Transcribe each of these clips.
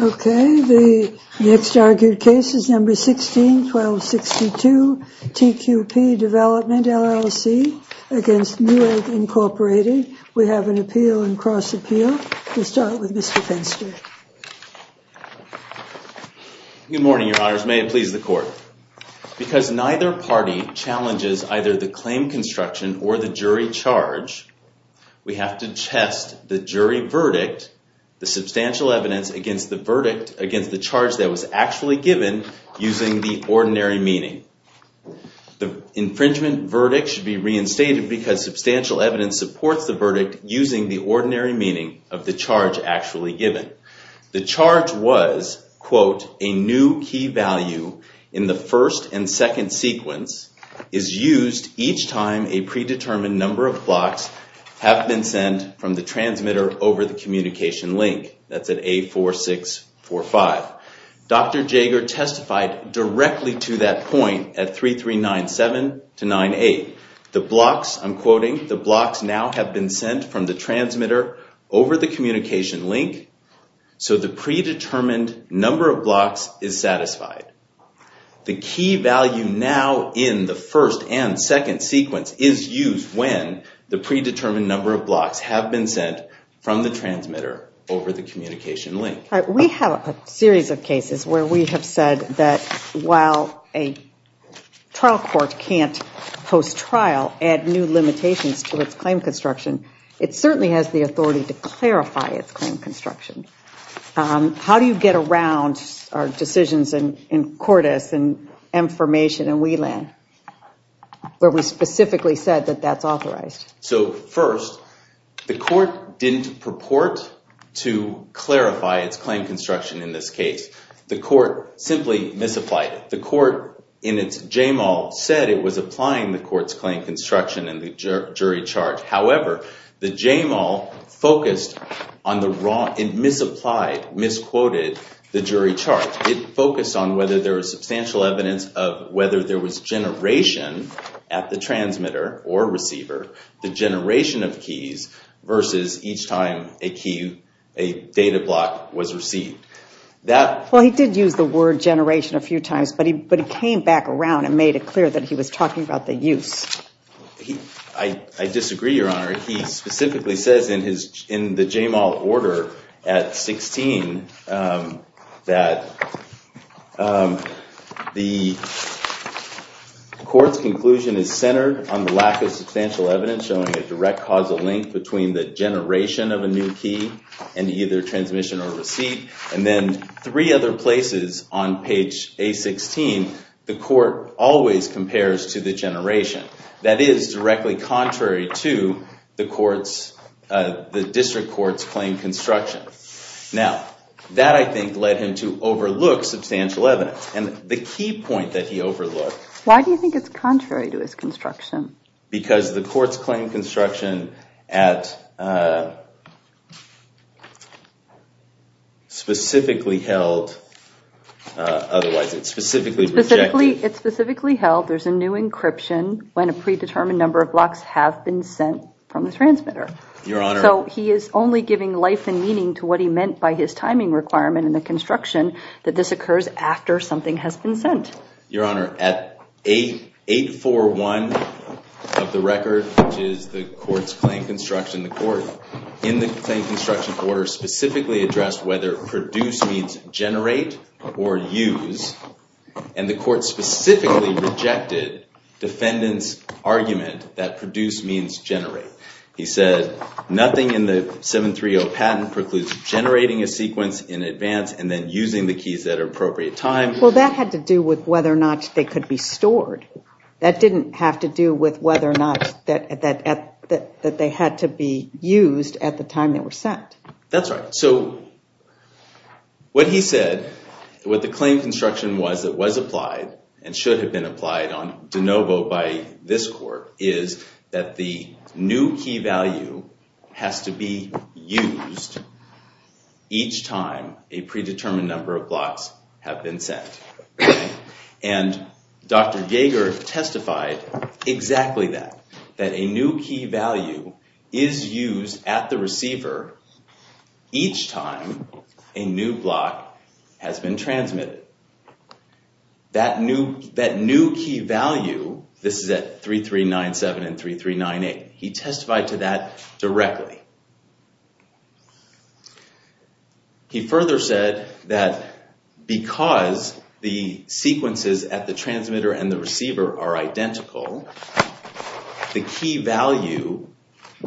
Okay, the next argued case is number 16-1262, TQP Development LLC against Newegg, Inc. We have an appeal and cross appeal. We'll start with Mr. Fenster. Good morning, your honors. May it please the court. Because neither party challenges either the claim construction or the jury charge, we have to test the jury verdict, the substantial evidence against the verdict against the charge that was actually given using the ordinary meaning. The infringement verdict should be reinstated because substantial evidence supports the verdict using the ordinary meaning of the charge actually given. The charge was, a new key value in the first and second sequence is used each time a predetermined number of blocks have been sent from the transmitter over the communication link. That's at A4645. Dr. Jager testified directly to that point at A3397-98. The blocks, I'm quoting, the blocks now have been sent from the transmitter over the communication link, so the predetermined number of blocks is satisfied. The key value now in the first and second sequence is used when the predetermined number of blocks have been sent from the transmitter over the communication link. We have a series of cases where we have said that while a trial court can't post-trial add new limitations to its claim construction, it certainly has the authority to clarify its claim construction. How do you get around our decisions in Cordes and Mformation and WLAN where we specifically said that that's authorized? So first, the court didn't purport to clarify its claim construction in this case. The court simply misapplied it. The court in its JMAL said it was applying the court's claim construction in the jury charge. However, the JMAL focused on the wrong, it misapplied, misquoted the jury charge. It focused on whether there was substantial evidence of whether there was generation at the transmitter or receiver, the generation of keys versus each time a key, a data block was received. Well, he did use the word generation a few times, but he came back around and made it clear that he was talking about the use. I disagree, Your Honor. He specifically says in the JMAL order at 16 that the court's conclusion is centered on the lack of substantial evidence showing a direct causal link between the generation of a new key and either transmission or receipt, and then three other places on page A-16, the court always compares to the generation. That is directly contrary to the district court's claim construction. Now, that I think led him to overlook substantial evidence. The key point that he overlooked- Why do you think it's contrary to his construction? Because the court's claim construction at specifically held, otherwise it's specifically rejected- have been sent from the transmitter. So he is only giving life and meaning to what he meant by his timing requirement in the construction that this occurs after something has been sent. Your Honor, at 841 of the record, which is the court's claim construction, the court in the claim construction order specifically addressed whether produce means generate or use, and the court specifically rejected defendant's argument that produce means generate. He said nothing in the 730 patent precludes generating a sequence in advance and then using the keys at an appropriate time. Well, that had to do with whether or not they could be stored. That didn't have to do with whether or not that they had to be used at the time they were sent. That's right. So what he said, what the claim construction was that was applied and should have been applied on de novo by this court is that the new key value has to be used each time a predetermined number of blocks have been sent. And Dr. Yeager testified exactly that, that a new key value is used at the receiver each time a new block has been transmitted. That new key value, this is at 3397 and 3398, he testified to that directly. He further said that because the sequences at the transmitter and the receiver are identical, the key value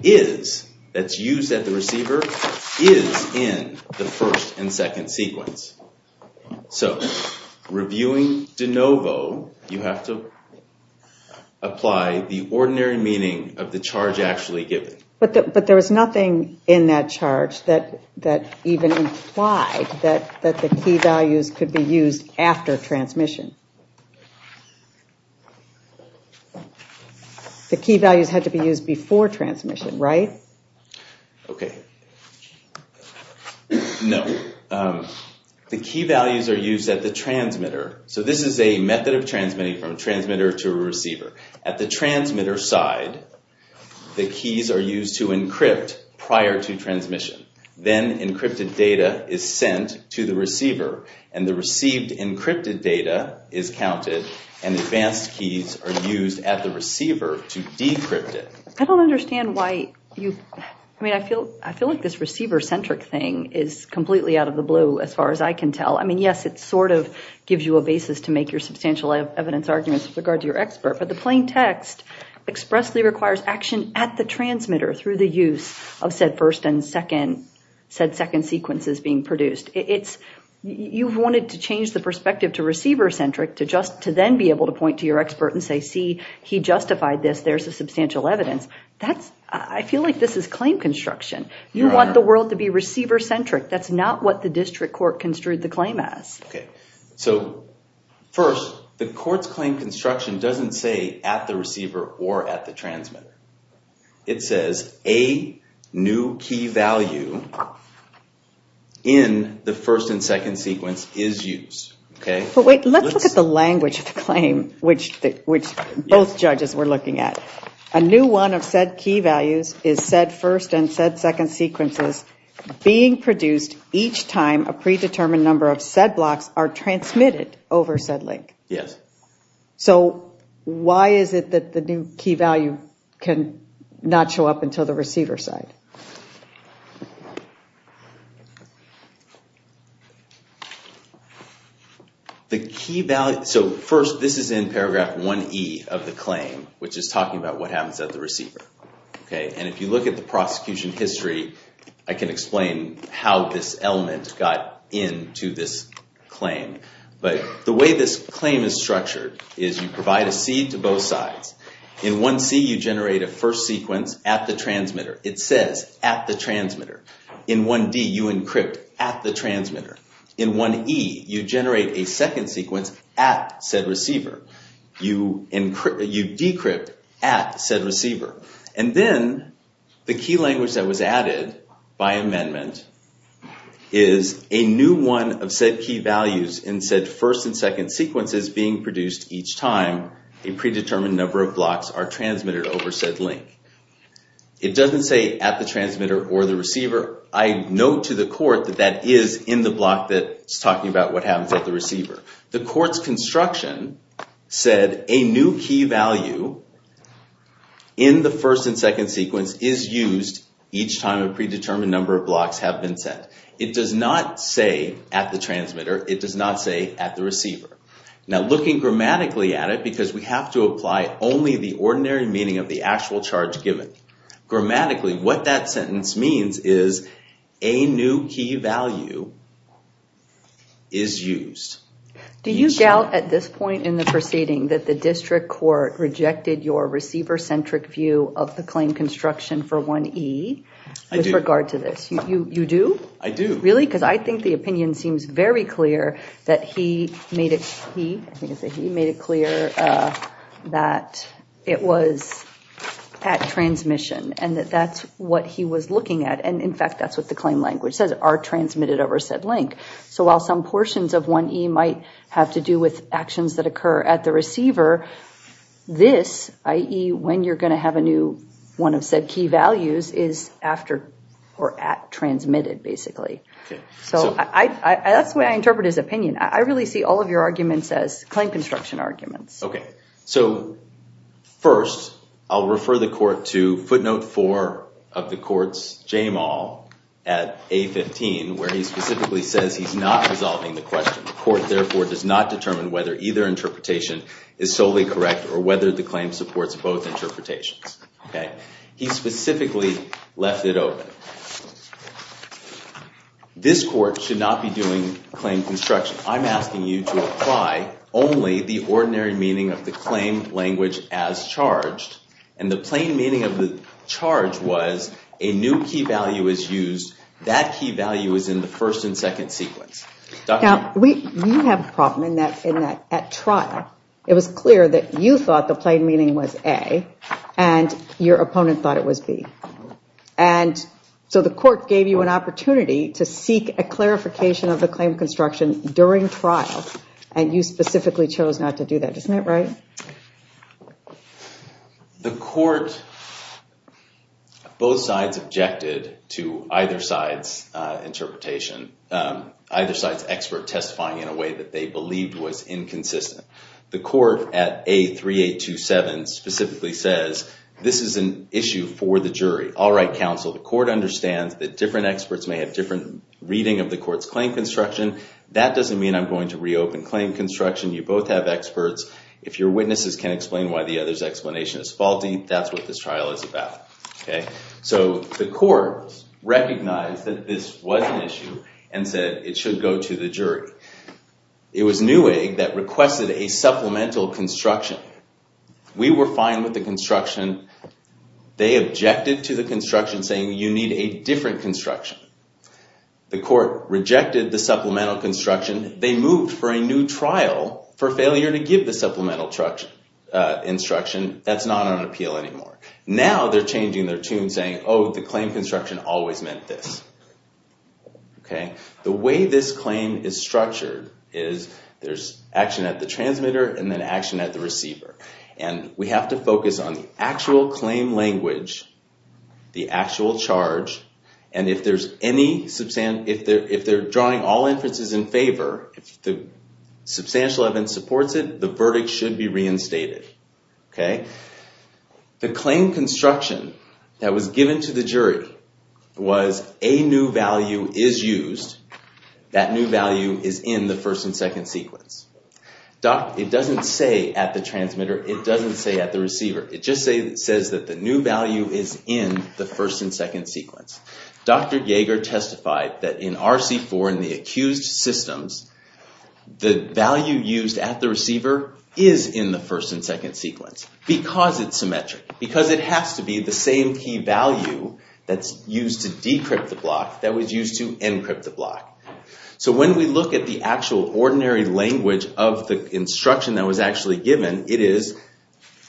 is, that's used at the receiver, is in the first and second sequence. So reviewing de novo, you have to apply the ordinary meaning of the charge actually given. But there was nothing in that charge that even implied that the key values could be used after transmission. The key values had to be used before transmission, right? Okay. No. The key values are used at the transmitter. So this is a method of transmitting from transmitter to receiver. At the transmitter side, the keys are used to encrypt prior to transmission. Then encrypted data is sent to the receiver and the received encrypted data is counted and advanced keys are used at the receiver to decrypt it. I don't understand why you, I mean, I feel like this receiver centric thing is completely out of the blue as far as I can tell. I mean, yes, it sort of gives you a basis to make substantial evidence arguments with regard to your expert, but the plain text expressly requires action at the transmitter through the use of said first and second, said second sequences being produced. You've wanted to change the perspective to receiver centric to then be able to point to your expert and say, see, he justified this. There's a substantial evidence. That's, I feel like this is claim construction. You want the world to be receiver centric. That's not what the district court construed the claim as. Okay. So first the court's claim construction doesn't say at the receiver or at the transmitter. It says a new key value in the first and second sequence is used. Okay. But wait, let's look at the language of the claim, which both judges were looking at. A new one of said key values is said first and said second sequences being produced each time a predetermined number of said blocks are transmitted over said link. Yes. So why is it that the new key value can not show up until the receiver side? The key value. So first, this is in paragraph one E of the claim, which is talking about what happens at the receiver. Okay. And if you look at the prosecution history, I can explain how this element got into this claim. But the way this claim is structured is you provide a seed to both sides. In one C, you generate a first sequence at the transmitter. It says at the transmitter. In one D, you encrypt at the transmitter. In one E, you generate a second sequence at said receiver. You decrypt at said receiver. And then the key language that was added by amendment is a new one of said key values in said first and second sequences being produced each time a predetermined number of blocks are transmitted over said link. It doesn't say at the transmitter or the receiver. I note to the court that that is in the block that's talking about what happens at the receiver. The court's construction said a new key value in the first and second sequence is used each time a predetermined number of blocks have been set. It does not say at the transmitter. It does not say at the receiver. Now looking grammatically at it because we have to apply only the ordinary meaning of the actual charge given. Grammatically, what that sentence means is a new key value is used. Do you doubt at this point in the proceeding that the district court rejected your receiver-centric view of the claim construction for 1E with regard to this? You do? I do. Really? Because I think the opinion seems very clear that he made it clear that it was at transmission and that that's what he was looking at. And in fact, that's what the claim language says are transmitted over said link. So while some portions of 1E might have to do with actions that occur at the receiver, this, i.e. when you're going to have a new one of said key values is after or at transmitted basically. So that's the way I interpret his opinion. I really see all of your arguments as claim construction arguments. Okay, so first I'll refer the court to footnote 4 of the court's JMAL at A15 where he specifically says he's not resolving the question. The court therefore does not determine whether either interpretation is solely correct or whether the claim supports both interpretations. He specifically left it open. This court should not be doing claim construction. I'm asking you to apply only the ordinary meaning of the claim language as charged and the plain meaning of the charge was a new key value is used. That key value is in the first and at trial. It was clear that you thought the plain meaning was A and your opponent thought it was B. And so the court gave you an opportunity to seek a clarification of the claim construction during trial and you specifically chose not to do that. Isn't that right? The court, both sides objected to either side's interpretation. Either side's expert testifying in a way that they believed was inconsistent. The court at A3827 specifically says this is an issue for the jury. All right, counsel, the court understands that different experts may have different reading of the court's claim construction. That doesn't mean I'm going to reopen claim construction. You both have experts. If your witnesses can explain why the other's explanation is faulty, that's what this trial is about. Okay, so the court recognized that this was an issue and said it should go to the jury. It was Newegg that requested a supplemental construction. We were fine with the construction. They objected to the construction saying you need a different construction. The court rejected the supplemental construction. They moved for a new trial for failure to give the supplemental instruction. That's not on appeal anymore. Now they're changing their tune saying, oh, the claim construction always meant this. The way this claim is structured is there's action at the transmitter and then action at the receiver. We have to focus on the actual claim language, the actual charge, and if they're drawing all inferences in favor, if the substantial evidence supports it, the verdict should be reinstated. Okay, the claim construction that was given to the jury was a new value is used. That new value is in the first and second sequence. It doesn't say at the transmitter. It doesn't say at the receiver. It just says that the new value is in the first and second sequence. Dr. Yeager testified that in RC4 in the accused systems, the value used at the receiver is in the first and second sequence because it's symmetric, because it has to be the same key value that's used to decrypt the block that was used to encrypt the block. So when we look at the actual ordinary language of the instruction that was actually given, it is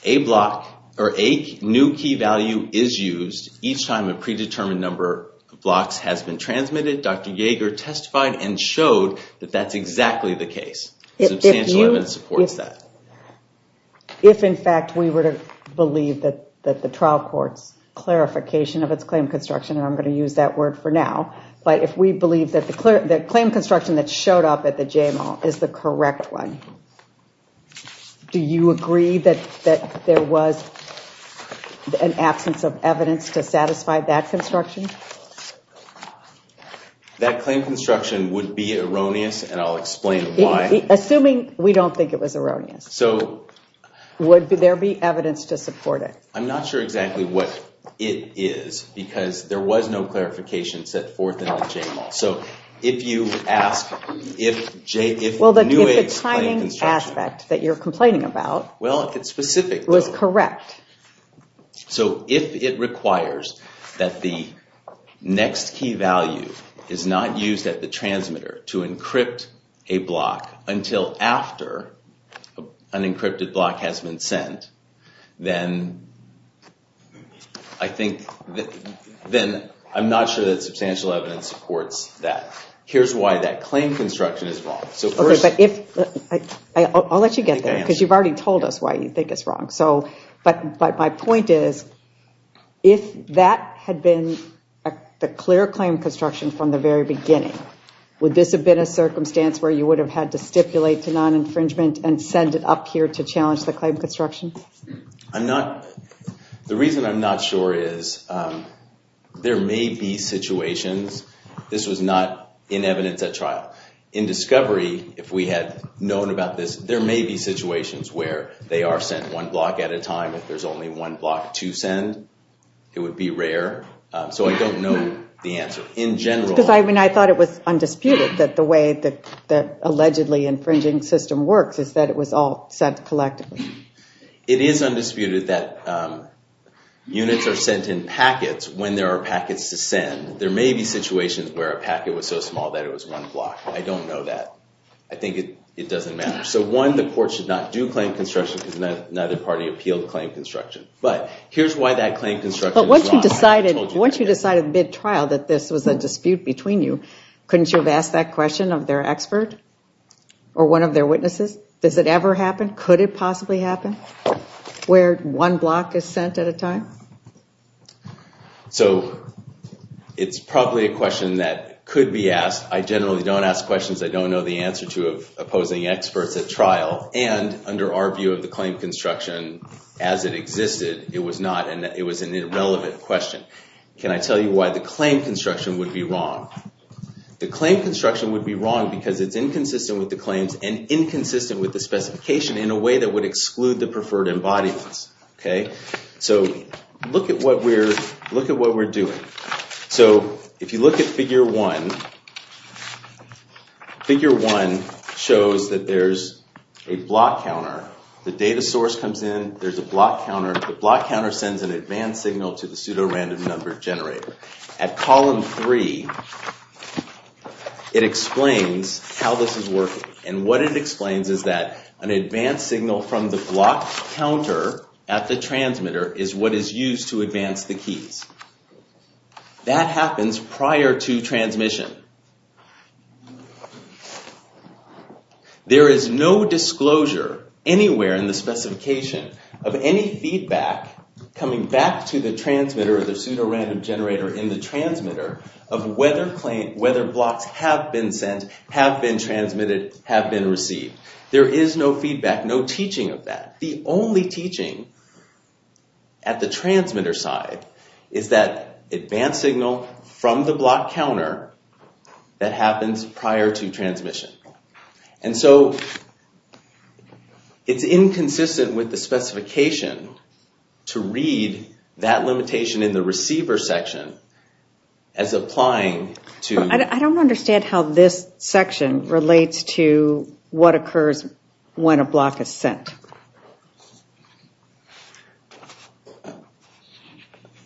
a block or a new key value is used each time predetermined number of blocks has been transmitted. Dr. Yeager testified and showed that that's exactly the case. Substantial evidence supports that. If in fact we were to believe that the trial court's clarification of its claim construction, and I'm going to use that word for now, but if we believe that the claim construction that showed up at the JMO is the correct one, do you agree that there was an absence of evidence to support that construction? That claim construction would be erroneous and I'll explain why. Assuming we don't think it was erroneous, would there be evidence to support it? I'm not sure exactly what it is because there was no clarification set forth in the JMO. So if you ask, if the timing aspect that you're complaining about was correct, so if it requires that the next key value is not used at the transmitter to encrypt a block until after an encrypted block has been sent, then I'm not sure that substantial evidence supports that. Here's why that claim construction is wrong. I'll let you get there because you've already told us why you think it's wrong. But my point is, if that had been a clear claim construction from the very beginning, would this have been a circumstance where you would have had to stipulate to non-infringement and send it up here to challenge the claim construction? The reason I'm not sure is there may be situations. This was not in evidence at trial. In discovery, if we had known about this, there may be situations where they are sent one block at a time. If there's only one block to send, it would be rare. So I don't know the answer in general. Because I mean I thought it was undisputed that the way that the allegedly infringing system works is that it was all collectively. It is undisputed that units are sent in packets when there are packets to send. There may be situations where a packet was so small that it was one block. I don't know that. I think it doesn't matter. So one, the court should not do claim construction because neither party appealed claim construction. But here's why that claim construction is wrong. But once you decided mid-trial that this was a dispute between you, couldn't you have asked that question of their expert or one of their witnesses? Does it ever happen? Could it possibly happen where one block is sent at a time? So it's probably a question that could be asked. I generally don't ask questions I don't know the answer to of opposing experts at trial. And under our view of the claim construction as it existed, it was not and it was an irrelevant question. Can I tell you why the claim construction would be wrong? The claim construction would be wrong because it's inconsistent with the claims and inconsistent with the specification in a way that would exclude the preferred embodiments. So look at what we're doing. So if you look at figure one, figure one shows that there's a block counter. The data source comes in, there's a block counter. The block counter sends an advanced signal to the pseudo random number generator. At column three, it explains how this is working. And what it explains is that an advanced signal from the block counter at the transmitter is what is used to advance the keys. That happens prior to coming back to the transmitter or the pseudo random generator in the transmitter of whether blocks have been sent, have been transmitted, have been received. There is no feedback, no teaching of that. The only teaching at the transmitter side is that advanced signal from the block counter that happens prior to transmission. And so it's inconsistent with the specification to read that limitation in the receiver section as applying to... I don't understand how this section relates to what occurs when a block is sent.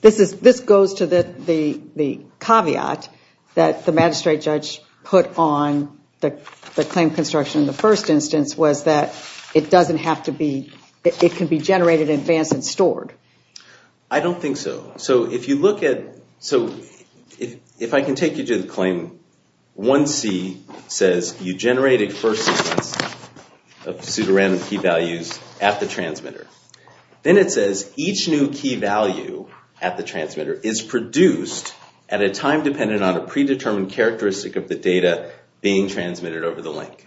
This goes to the caveat that the magistrate judge put on the claim construction in the it can be generated, advanced, and stored. I don't think so. So if you look at... So if I can take you to the claim, one C says you generate a first sequence of pseudo random key values at the transmitter. Then it says each new key value at the transmitter is produced at a time dependent on a predetermined characteristic of the data being transmitted over the link.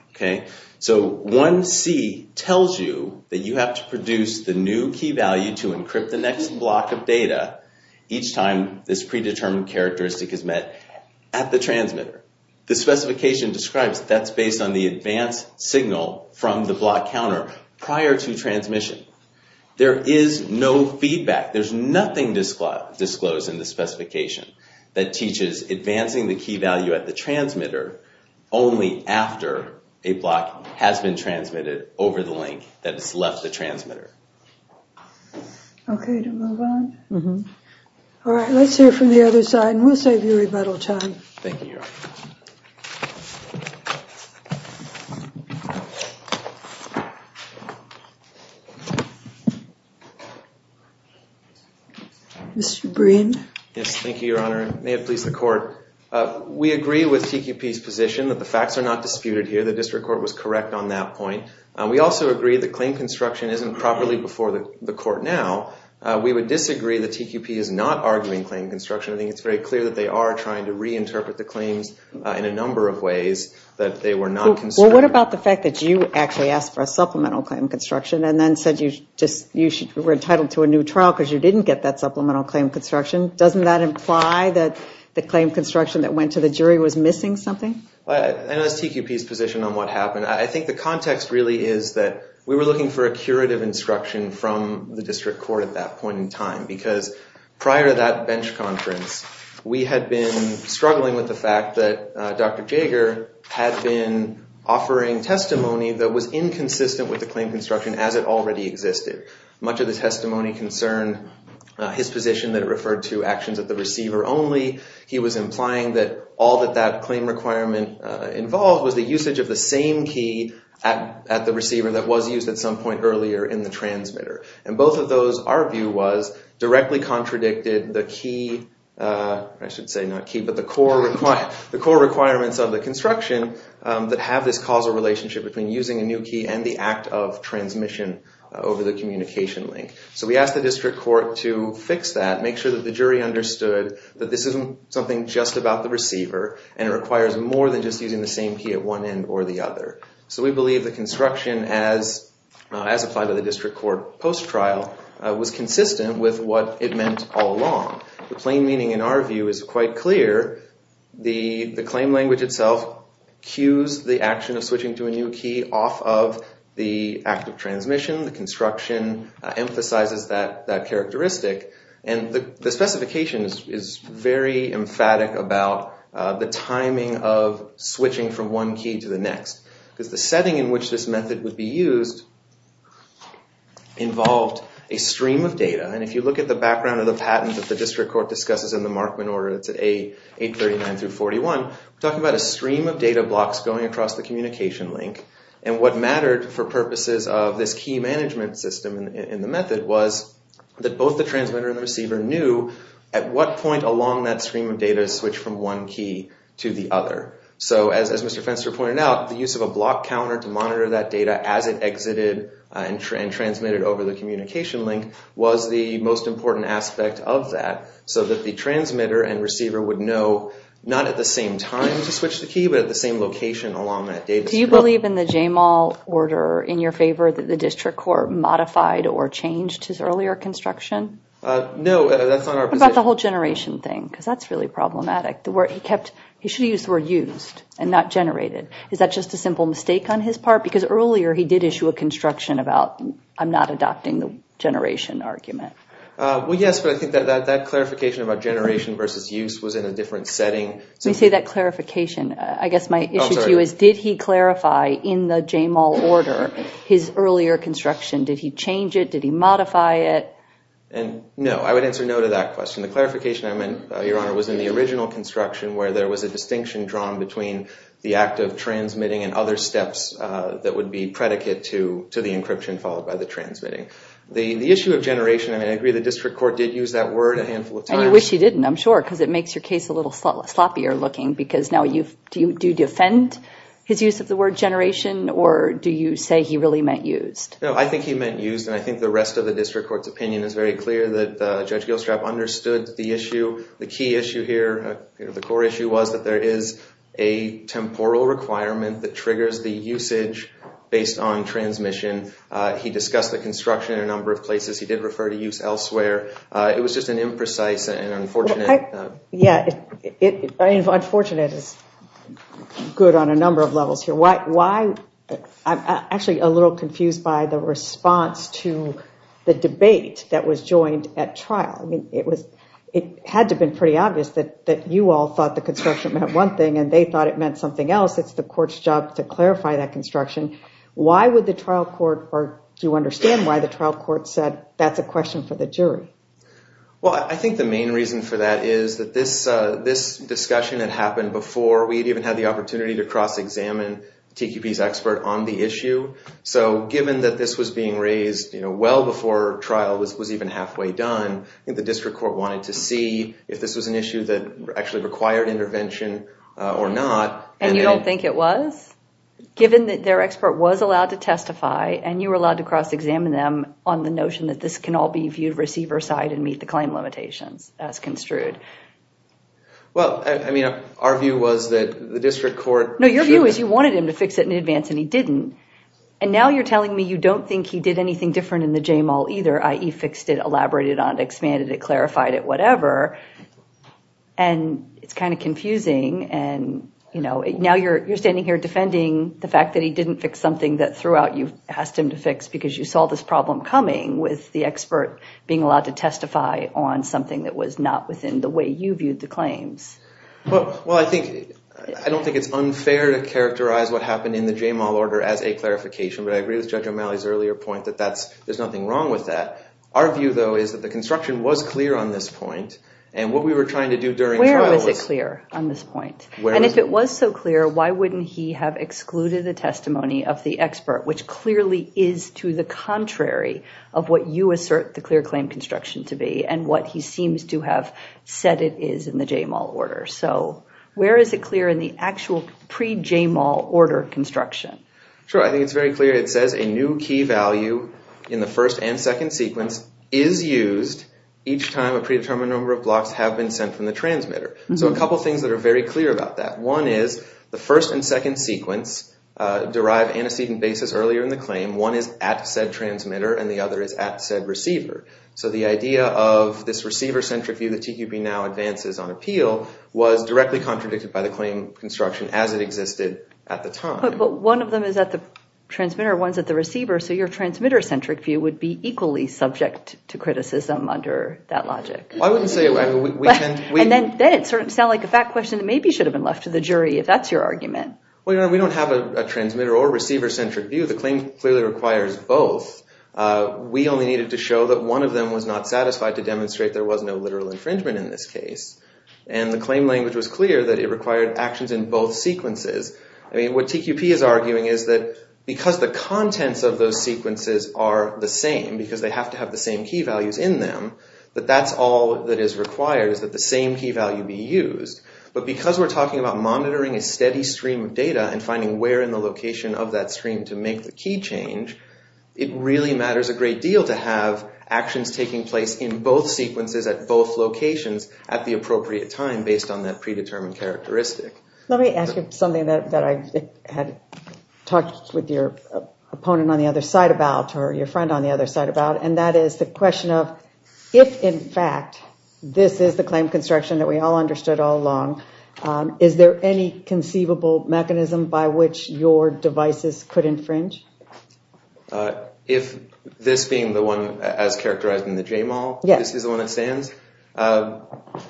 So one C tells you that you have to produce the new key value to encrypt the next block of data each time this predetermined characteristic is met at the transmitter. The specification describes that's based on the advanced signal from the block counter prior to transmission. There is no feedback. There's nothing disclosed in the specification that teaches advancing the key value at the transmitter only after a block has been transmitted over the link that has left the transmitter. Okay, to move on. All right, let's hear from the other side and we'll save you a little time. Thank you, Your Honor. Mr. Breen. Yes, thank you, Your Honor. May it please the court. We agree with TQP's position that the facts are not disputed here. The district court was correct on that point. We also agree that claim construction isn't properly before the court now. We would disagree that TQP is not arguing claim construction. I think it's very clear that they are trying to in a number of ways that they were not concerned. Well, what about the fact that you actually asked for a supplemental claim construction and then said you were entitled to a new trial because you didn't get that supplemental claim construction? Doesn't that imply that the claim construction that went to the jury was missing something? I know that's TQP's position on what happened. I think the context really is that we were looking for a curative instruction from the district court at that point in time because prior to that bench conference we had been struggling with the fact that Dr. Jager had been offering testimony that was inconsistent with the claim construction as it already existed. Much of the testimony concerned his position that it referred to actions at the receiver only. He was implying that all that that claim requirement involved was the usage of the same key at the receiver that was used at some point earlier in the transmitter. Both of those, our view was, directly contradicted the key, I should say not key, but the core requirements of the construction that have this causal relationship between using a new key and the act of transmission over the communication link. We asked the district court to fix that, make sure that the jury understood that this isn't something just about the receiver and it requires more than just using the same key at one end or the other. So we believe the construction as applied to the district court post-trial was consistent with what it meant all along. The plain meaning in our view is quite clear. The claim language itself cues the action of switching to a new key off of the act of transmission. The construction emphasizes that characteristic and the specification is very emphatic about the setting in which this method would be used involved a stream of data. And if you look at the background of the patent that the district court discusses in the Markman order, it's 839 through 41, we're talking about a stream of data blocks going across the communication link. And what mattered for purposes of this key management system in the method was that both the transmitter and the receiver knew at what point along that stream of data switch from one key to the other. So as Mr. Fenster pointed out, the use of a block counter to monitor that data as it exited and transmitted over the communication link was the most important aspect of that, so that the transmitter and receiver would know not at the same time to switch the key, but at the same location along that data. Do you believe in the Jamal order in your favor that the district court modified or changed his earlier construction? No, that's not our position. What about the whole generation thing, because that's really problematic. He should have used the word used and not generated. Is that just a simple mistake on his part? Because earlier he did issue a construction about I'm not adopting the generation argument. Well, yes, but I think that clarification about generation versus use was in a different setting. When you say that clarification, I guess my issue to you is did he clarify in the Jamal order his earlier construction? Did he change it? Did he modify it? No, I would answer no to that question. The clarification I meant, Your Honor, was in the original construction where there was a distinction drawn between the act of transmitting and other steps that would be predicate to the encryption followed by the transmitting. The issue of generation, I mean, I agree the district court did use that word a handful of times. And you wish he didn't, I'm sure, because it makes your case a little sloppier looking, because now do you defend his use of the word generation, or do you say he really meant used? I think he meant used, and I think the rest of the district court's opinion is very clear that Judge Gilstrap understood the issue. The key issue here, the core issue, was that there is a temporal requirement that triggers the usage based on transmission. He discussed the construction in a number of places. He did refer to use elsewhere. It was just an imprecise and unfortunate. Yeah, unfortunate is good on a number of levels here. Why, I'm actually a little confused by the response to the debate that was joined at trial. I mean, it had to have been pretty obvious that you all thought the construction meant one thing and they thought it meant something else. It's the court's job to clarify that construction. Why would the trial court, or do you understand why the trial court said that's a question for the jury? Well, I think the main reason for that is that this discussion had happened before we'd even the opportunity to cross-examine TQP's expert on the issue. So, given that this was being raised well before trial was even halfway done, the district court wanted to see if this was an issue that actually required intervention or not. And you don't think it was? Given that their expert was allowed to testify and you were allowed to cross-examine them on the notion that this can all be viewed receiver side and meet the claim limitations as construed? Well, I mean, our view was that the district court... No, your view is you wanted him to fix it in advance and he didn't. And now you're telling me you don't think he did anything different in the J-Mall either, i.e. fixed it, elaborated on it, expanded it, clarified it, whatever. And it's kind of confusing and, you know, now you're standing here defending the fact that he didn't fix something that throughout you've asked him to fix because you saw this problem coming with the expert being allowed to testify on something that was not within the way you viewed the claims. Well, I don't think it's unfair to characterize what happened in the J-Mall order as a clarification, but I agree with Judge O'Malley's earlier point that there's nothing wrong with that. Our view, though, is that the construction was clear on this point and what we were trying to do during trial was... Where was it clear on this point? And if it was so clear, why wouldn't he have excluded the testimony of the expert, which clearly is to the contrary of what you assert the clear claim construction to be and what he seems to have said it is in the J-Mall order. So where is it clear in the actual pre-J-Mall order construction? Sure. I think it's very clear. It says a new key value in the first and second sequence is used each time a predetermined number of blocks have been sent from the transmitter. So a couple of things that are very clear about that. One is the first and second sequence derive antecedent basis earlier in the claim. One is at said transmitter and the other is at said receiver. So the idea of this receiver-centric view that TQP now advances on appeal was directly contradicted by the claim construction as it existed at the time. But one of them is at the transmitter, one's at the receiver. So your transmitter-centric view would be equally subject to criticism under that logic. Well, I wouldn't say... And then it sort of sounds like a fact question that maybe should have been left to the jury if that's your argument. Well, you know, we don't have a transmitter or receiver-centric view. The claim clearly requires both. We only needed to show that one of them was not satisfied to demonstrate there was no literal infringement in this case. And the claim language was clear that it required actions in both sequences. I mean, what TQP is arguing is that because the contents of those sequences are the same, because they have to have the same key values in them, that that's all that is used. But because we're talking about monitoring a steady stream of data and finding where in the location of that stream to make the key change, it really matters a great deal to have actions taking place in both sequences at both locations at the appropriate time based on that predetermined characteristic. Let me ask you something that I had talked with your opponent on the other side about or your friend on the other side about, and that is the question of if in fact this is the construction that we all understood all along, is there any conceivable mechanism by which your devices could infringe? If this being the one as characterized in the JMAL, this is the one that stands? No,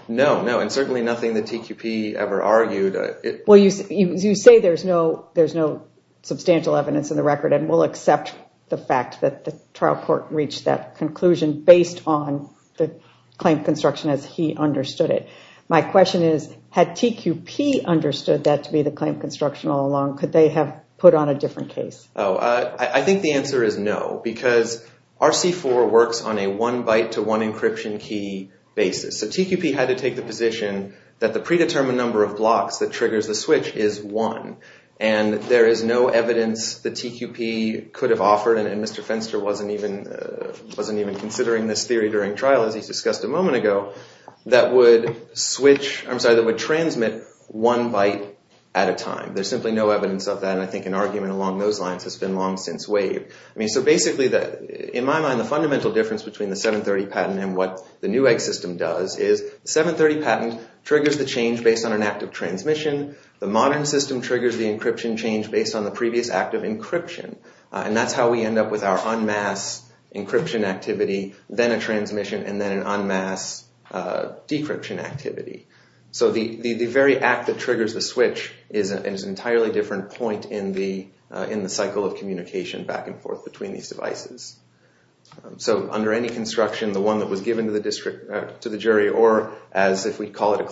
no, and certainly nothing that TQP ever argued. Well, you say there's no substantial evidence in the record, and we'll accept the fact that the trial court reached that conclusion based on the claim construction as he understood it. My question is, had TQP understood that to be the claim construction all along, could they have put on a different case? Oh, I think the answer is no, because RC4 works on a one byte to one encryption key basis. So TQP had to take the position that the predetermined number of blocks that triggers the switch is one, and there is no evidence that during trial, as he's discussed a moment ago, that would switch, I'm sorry, that would transmit one byte at a time. There's simply no evidence of that, and I think an argument along those lines has been long since waived. I mean, so basically, in my mind, the fundamental difference between the 730 patent and what the new egg system does is the 730 patent triggers the change based on an act of transmission. The modern system triggers the encryption change based on the previous act of encryption, and that's how we end up with our en masse encryption activity, then a transmission, and then an en masse decryption activity. So the very act that triggers the switch is an entirely different point in the cycle of communication back and forth between these devices. So under any construction, the one that was given to the jury, or as if we call it a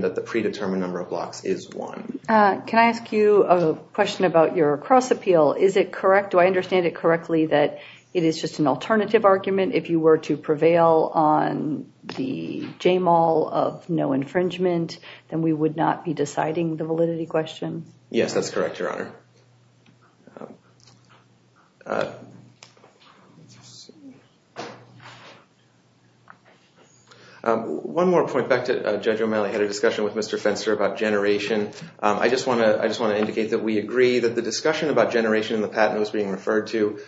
that the predetermined number of blocks is one. Can I ask you a question about your cross-appeal? Is it correct, do I understand it correctly, that it is just an alternative argument if you were to prevail on the JMAL of no infringement, then we would not be deciding the validity question? Yes, that's correct, Your Honor. One more point. Back to Judge O'Malley had a discussion with Mr. Fenster about generation. I just want to indicate that we agree that the discussion about generation and the patent that was being referred to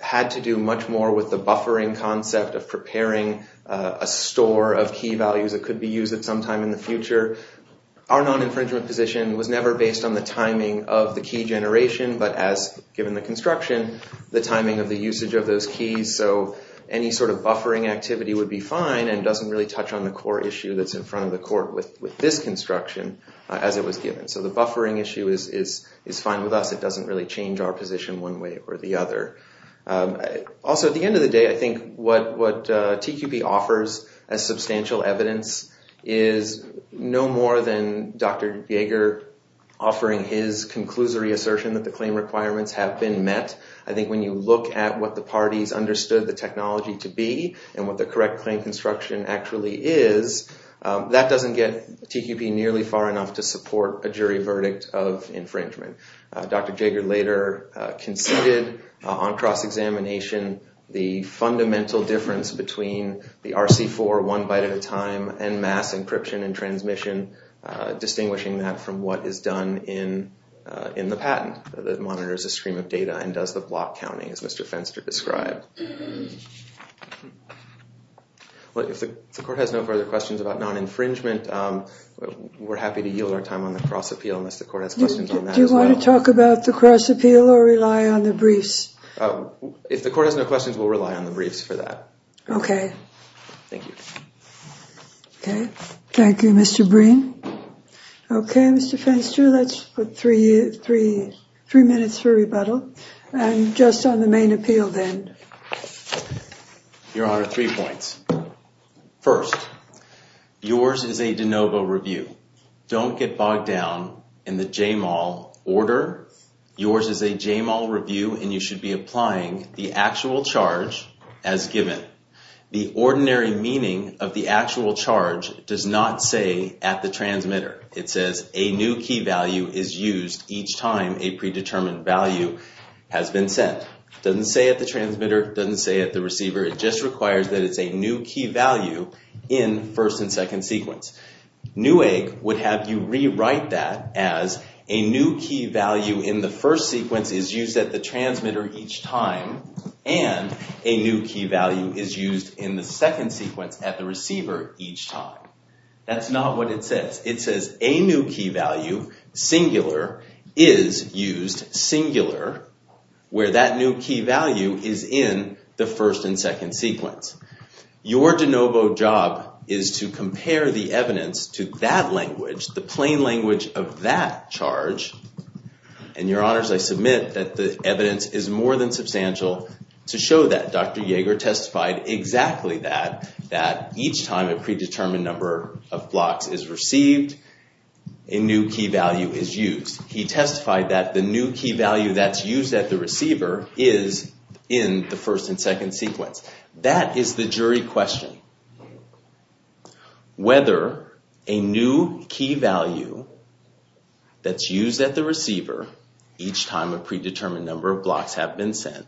had to do much more with the buffering concept of preparing a store of key values that could be used at some time in the future. Our non-infringement position was never based on the timing of the key generation, but as given the construction, the timing of the usage of those keys. So any sort of buffering activity would be fine and doesn't really touch on the core issue that's in front of the court with this construction as it was given. So the buffering issue is fine with us. It doesn't really change our position one way or the other. Also, at the end of the day, I think what TQP offers as substantial evidence is no more than Dr. Jaeger offering his conclusory assertion that the claim requirements have been met. I think when you look at what the parties understood the technology to be and what the correct claim construction actually is, that doesn't get TQP nearly far enough to support a jury verdict of infringement. Dr. Jaeger later conceded on cross-examination the fundamental difference between the RC4 one byte at a time and mass encryption and transmission, distinguishing that from what is done in the patent that monitors a stream of data and does the block counting as Mr. Fenster described. If the court has no further questions about non-infringement, we're happy to yield our appeal. Do you want to talk about the cross appeal or rely on the briefs? If the court has no questions, we'll rely on the briefs for that. Okay. Thank you. Okay. Thank you, Mr. Breen. Okay, Mr. Fenster, let's put three minutes for rebuttal and just on the main appeal then. Your Honor, three points. First, yours is a de novo review. Don't get bogged down in the JMAL order. Yours is a JMAL review and you should be applying the actual charge as given. The ordinary meaning of the actual charge does not say at the transmitter. It says a new key value is used each time a predetermined value has been sent. Doesn't say at the transmitter, doesn't say at the receiver. It just requires that it's a new key value in first and second sequence. Newegg would have you rewrite that as a new key value in the first sequence is used at the transmitter each time and a new key value is used in the second sequence at the receiver each time. That's not what it says. It says a new key value, singular, is used singular where that new key value is in the first and second sequence. Your de novo job is to compare the evidence to that language, the plain language of that charge, and Your Honors, I submit that the evidence is more than substantial to show that Dr. Yeager testified exactly that, that each time a predetermined number of blocks is received, a new key value is used. He testified that the new key value that's used at the receiver is in the first and second sequence. That is the jury question. Whether a new key value that's used at the receiver each time a predetermined number of blocks have been sent,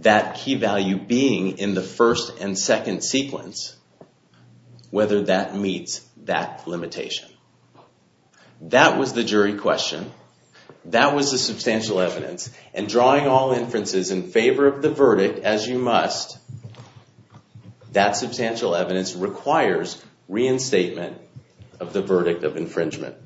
that key value being in the first and second sequence, whether that meets that limitation. That was the jury question. That was the substantial evidence. Drawing all inferences in favor of the verdict as you must, that substantial evidence requires reinstatement of the verdict of infringement.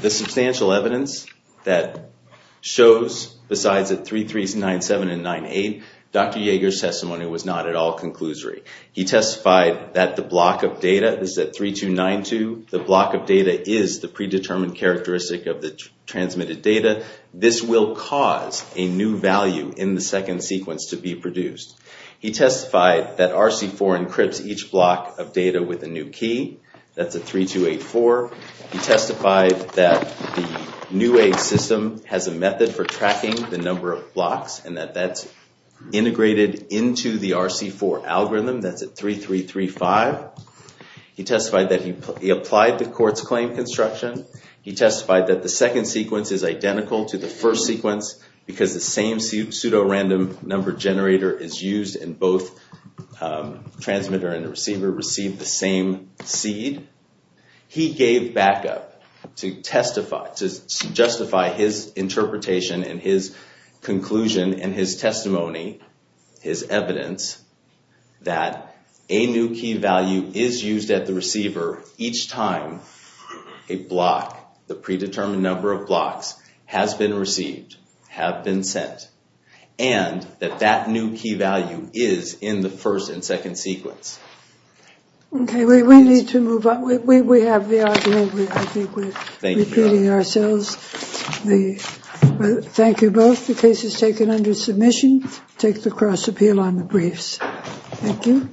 The substantial evidence that shows besides that 3397 and 98, Dr. Yeager's testimony was not at all conclusory. He testified that the block of data, this is at 3292, the block of data is the second sequence to be produced. He testified that RC4 encrypts each block of data with a new key, that's at 3284. He testified that the new aid system has a method for tracking the number of blocks and that that's integrated into the RC4 algorithm, that's at 3335. He testified that he applied the court's claim construction. He testified that the second pseudorandom number generator is used and both transmitter and the receiver receive the same seed. He gave backup to justify his interpretation and his conclusion and his testimony, his evidence, that a new key value is used at the receiver each time a block, the predetermined number of blocks, has been received, have been sent, and that that new key value is in the first and second sequence. Okay, we need to move on. We have the argument. I think we're repeating ourselves. Thank you both. The case is taken under submission. Take the cross appeal on the briefs. Thank you.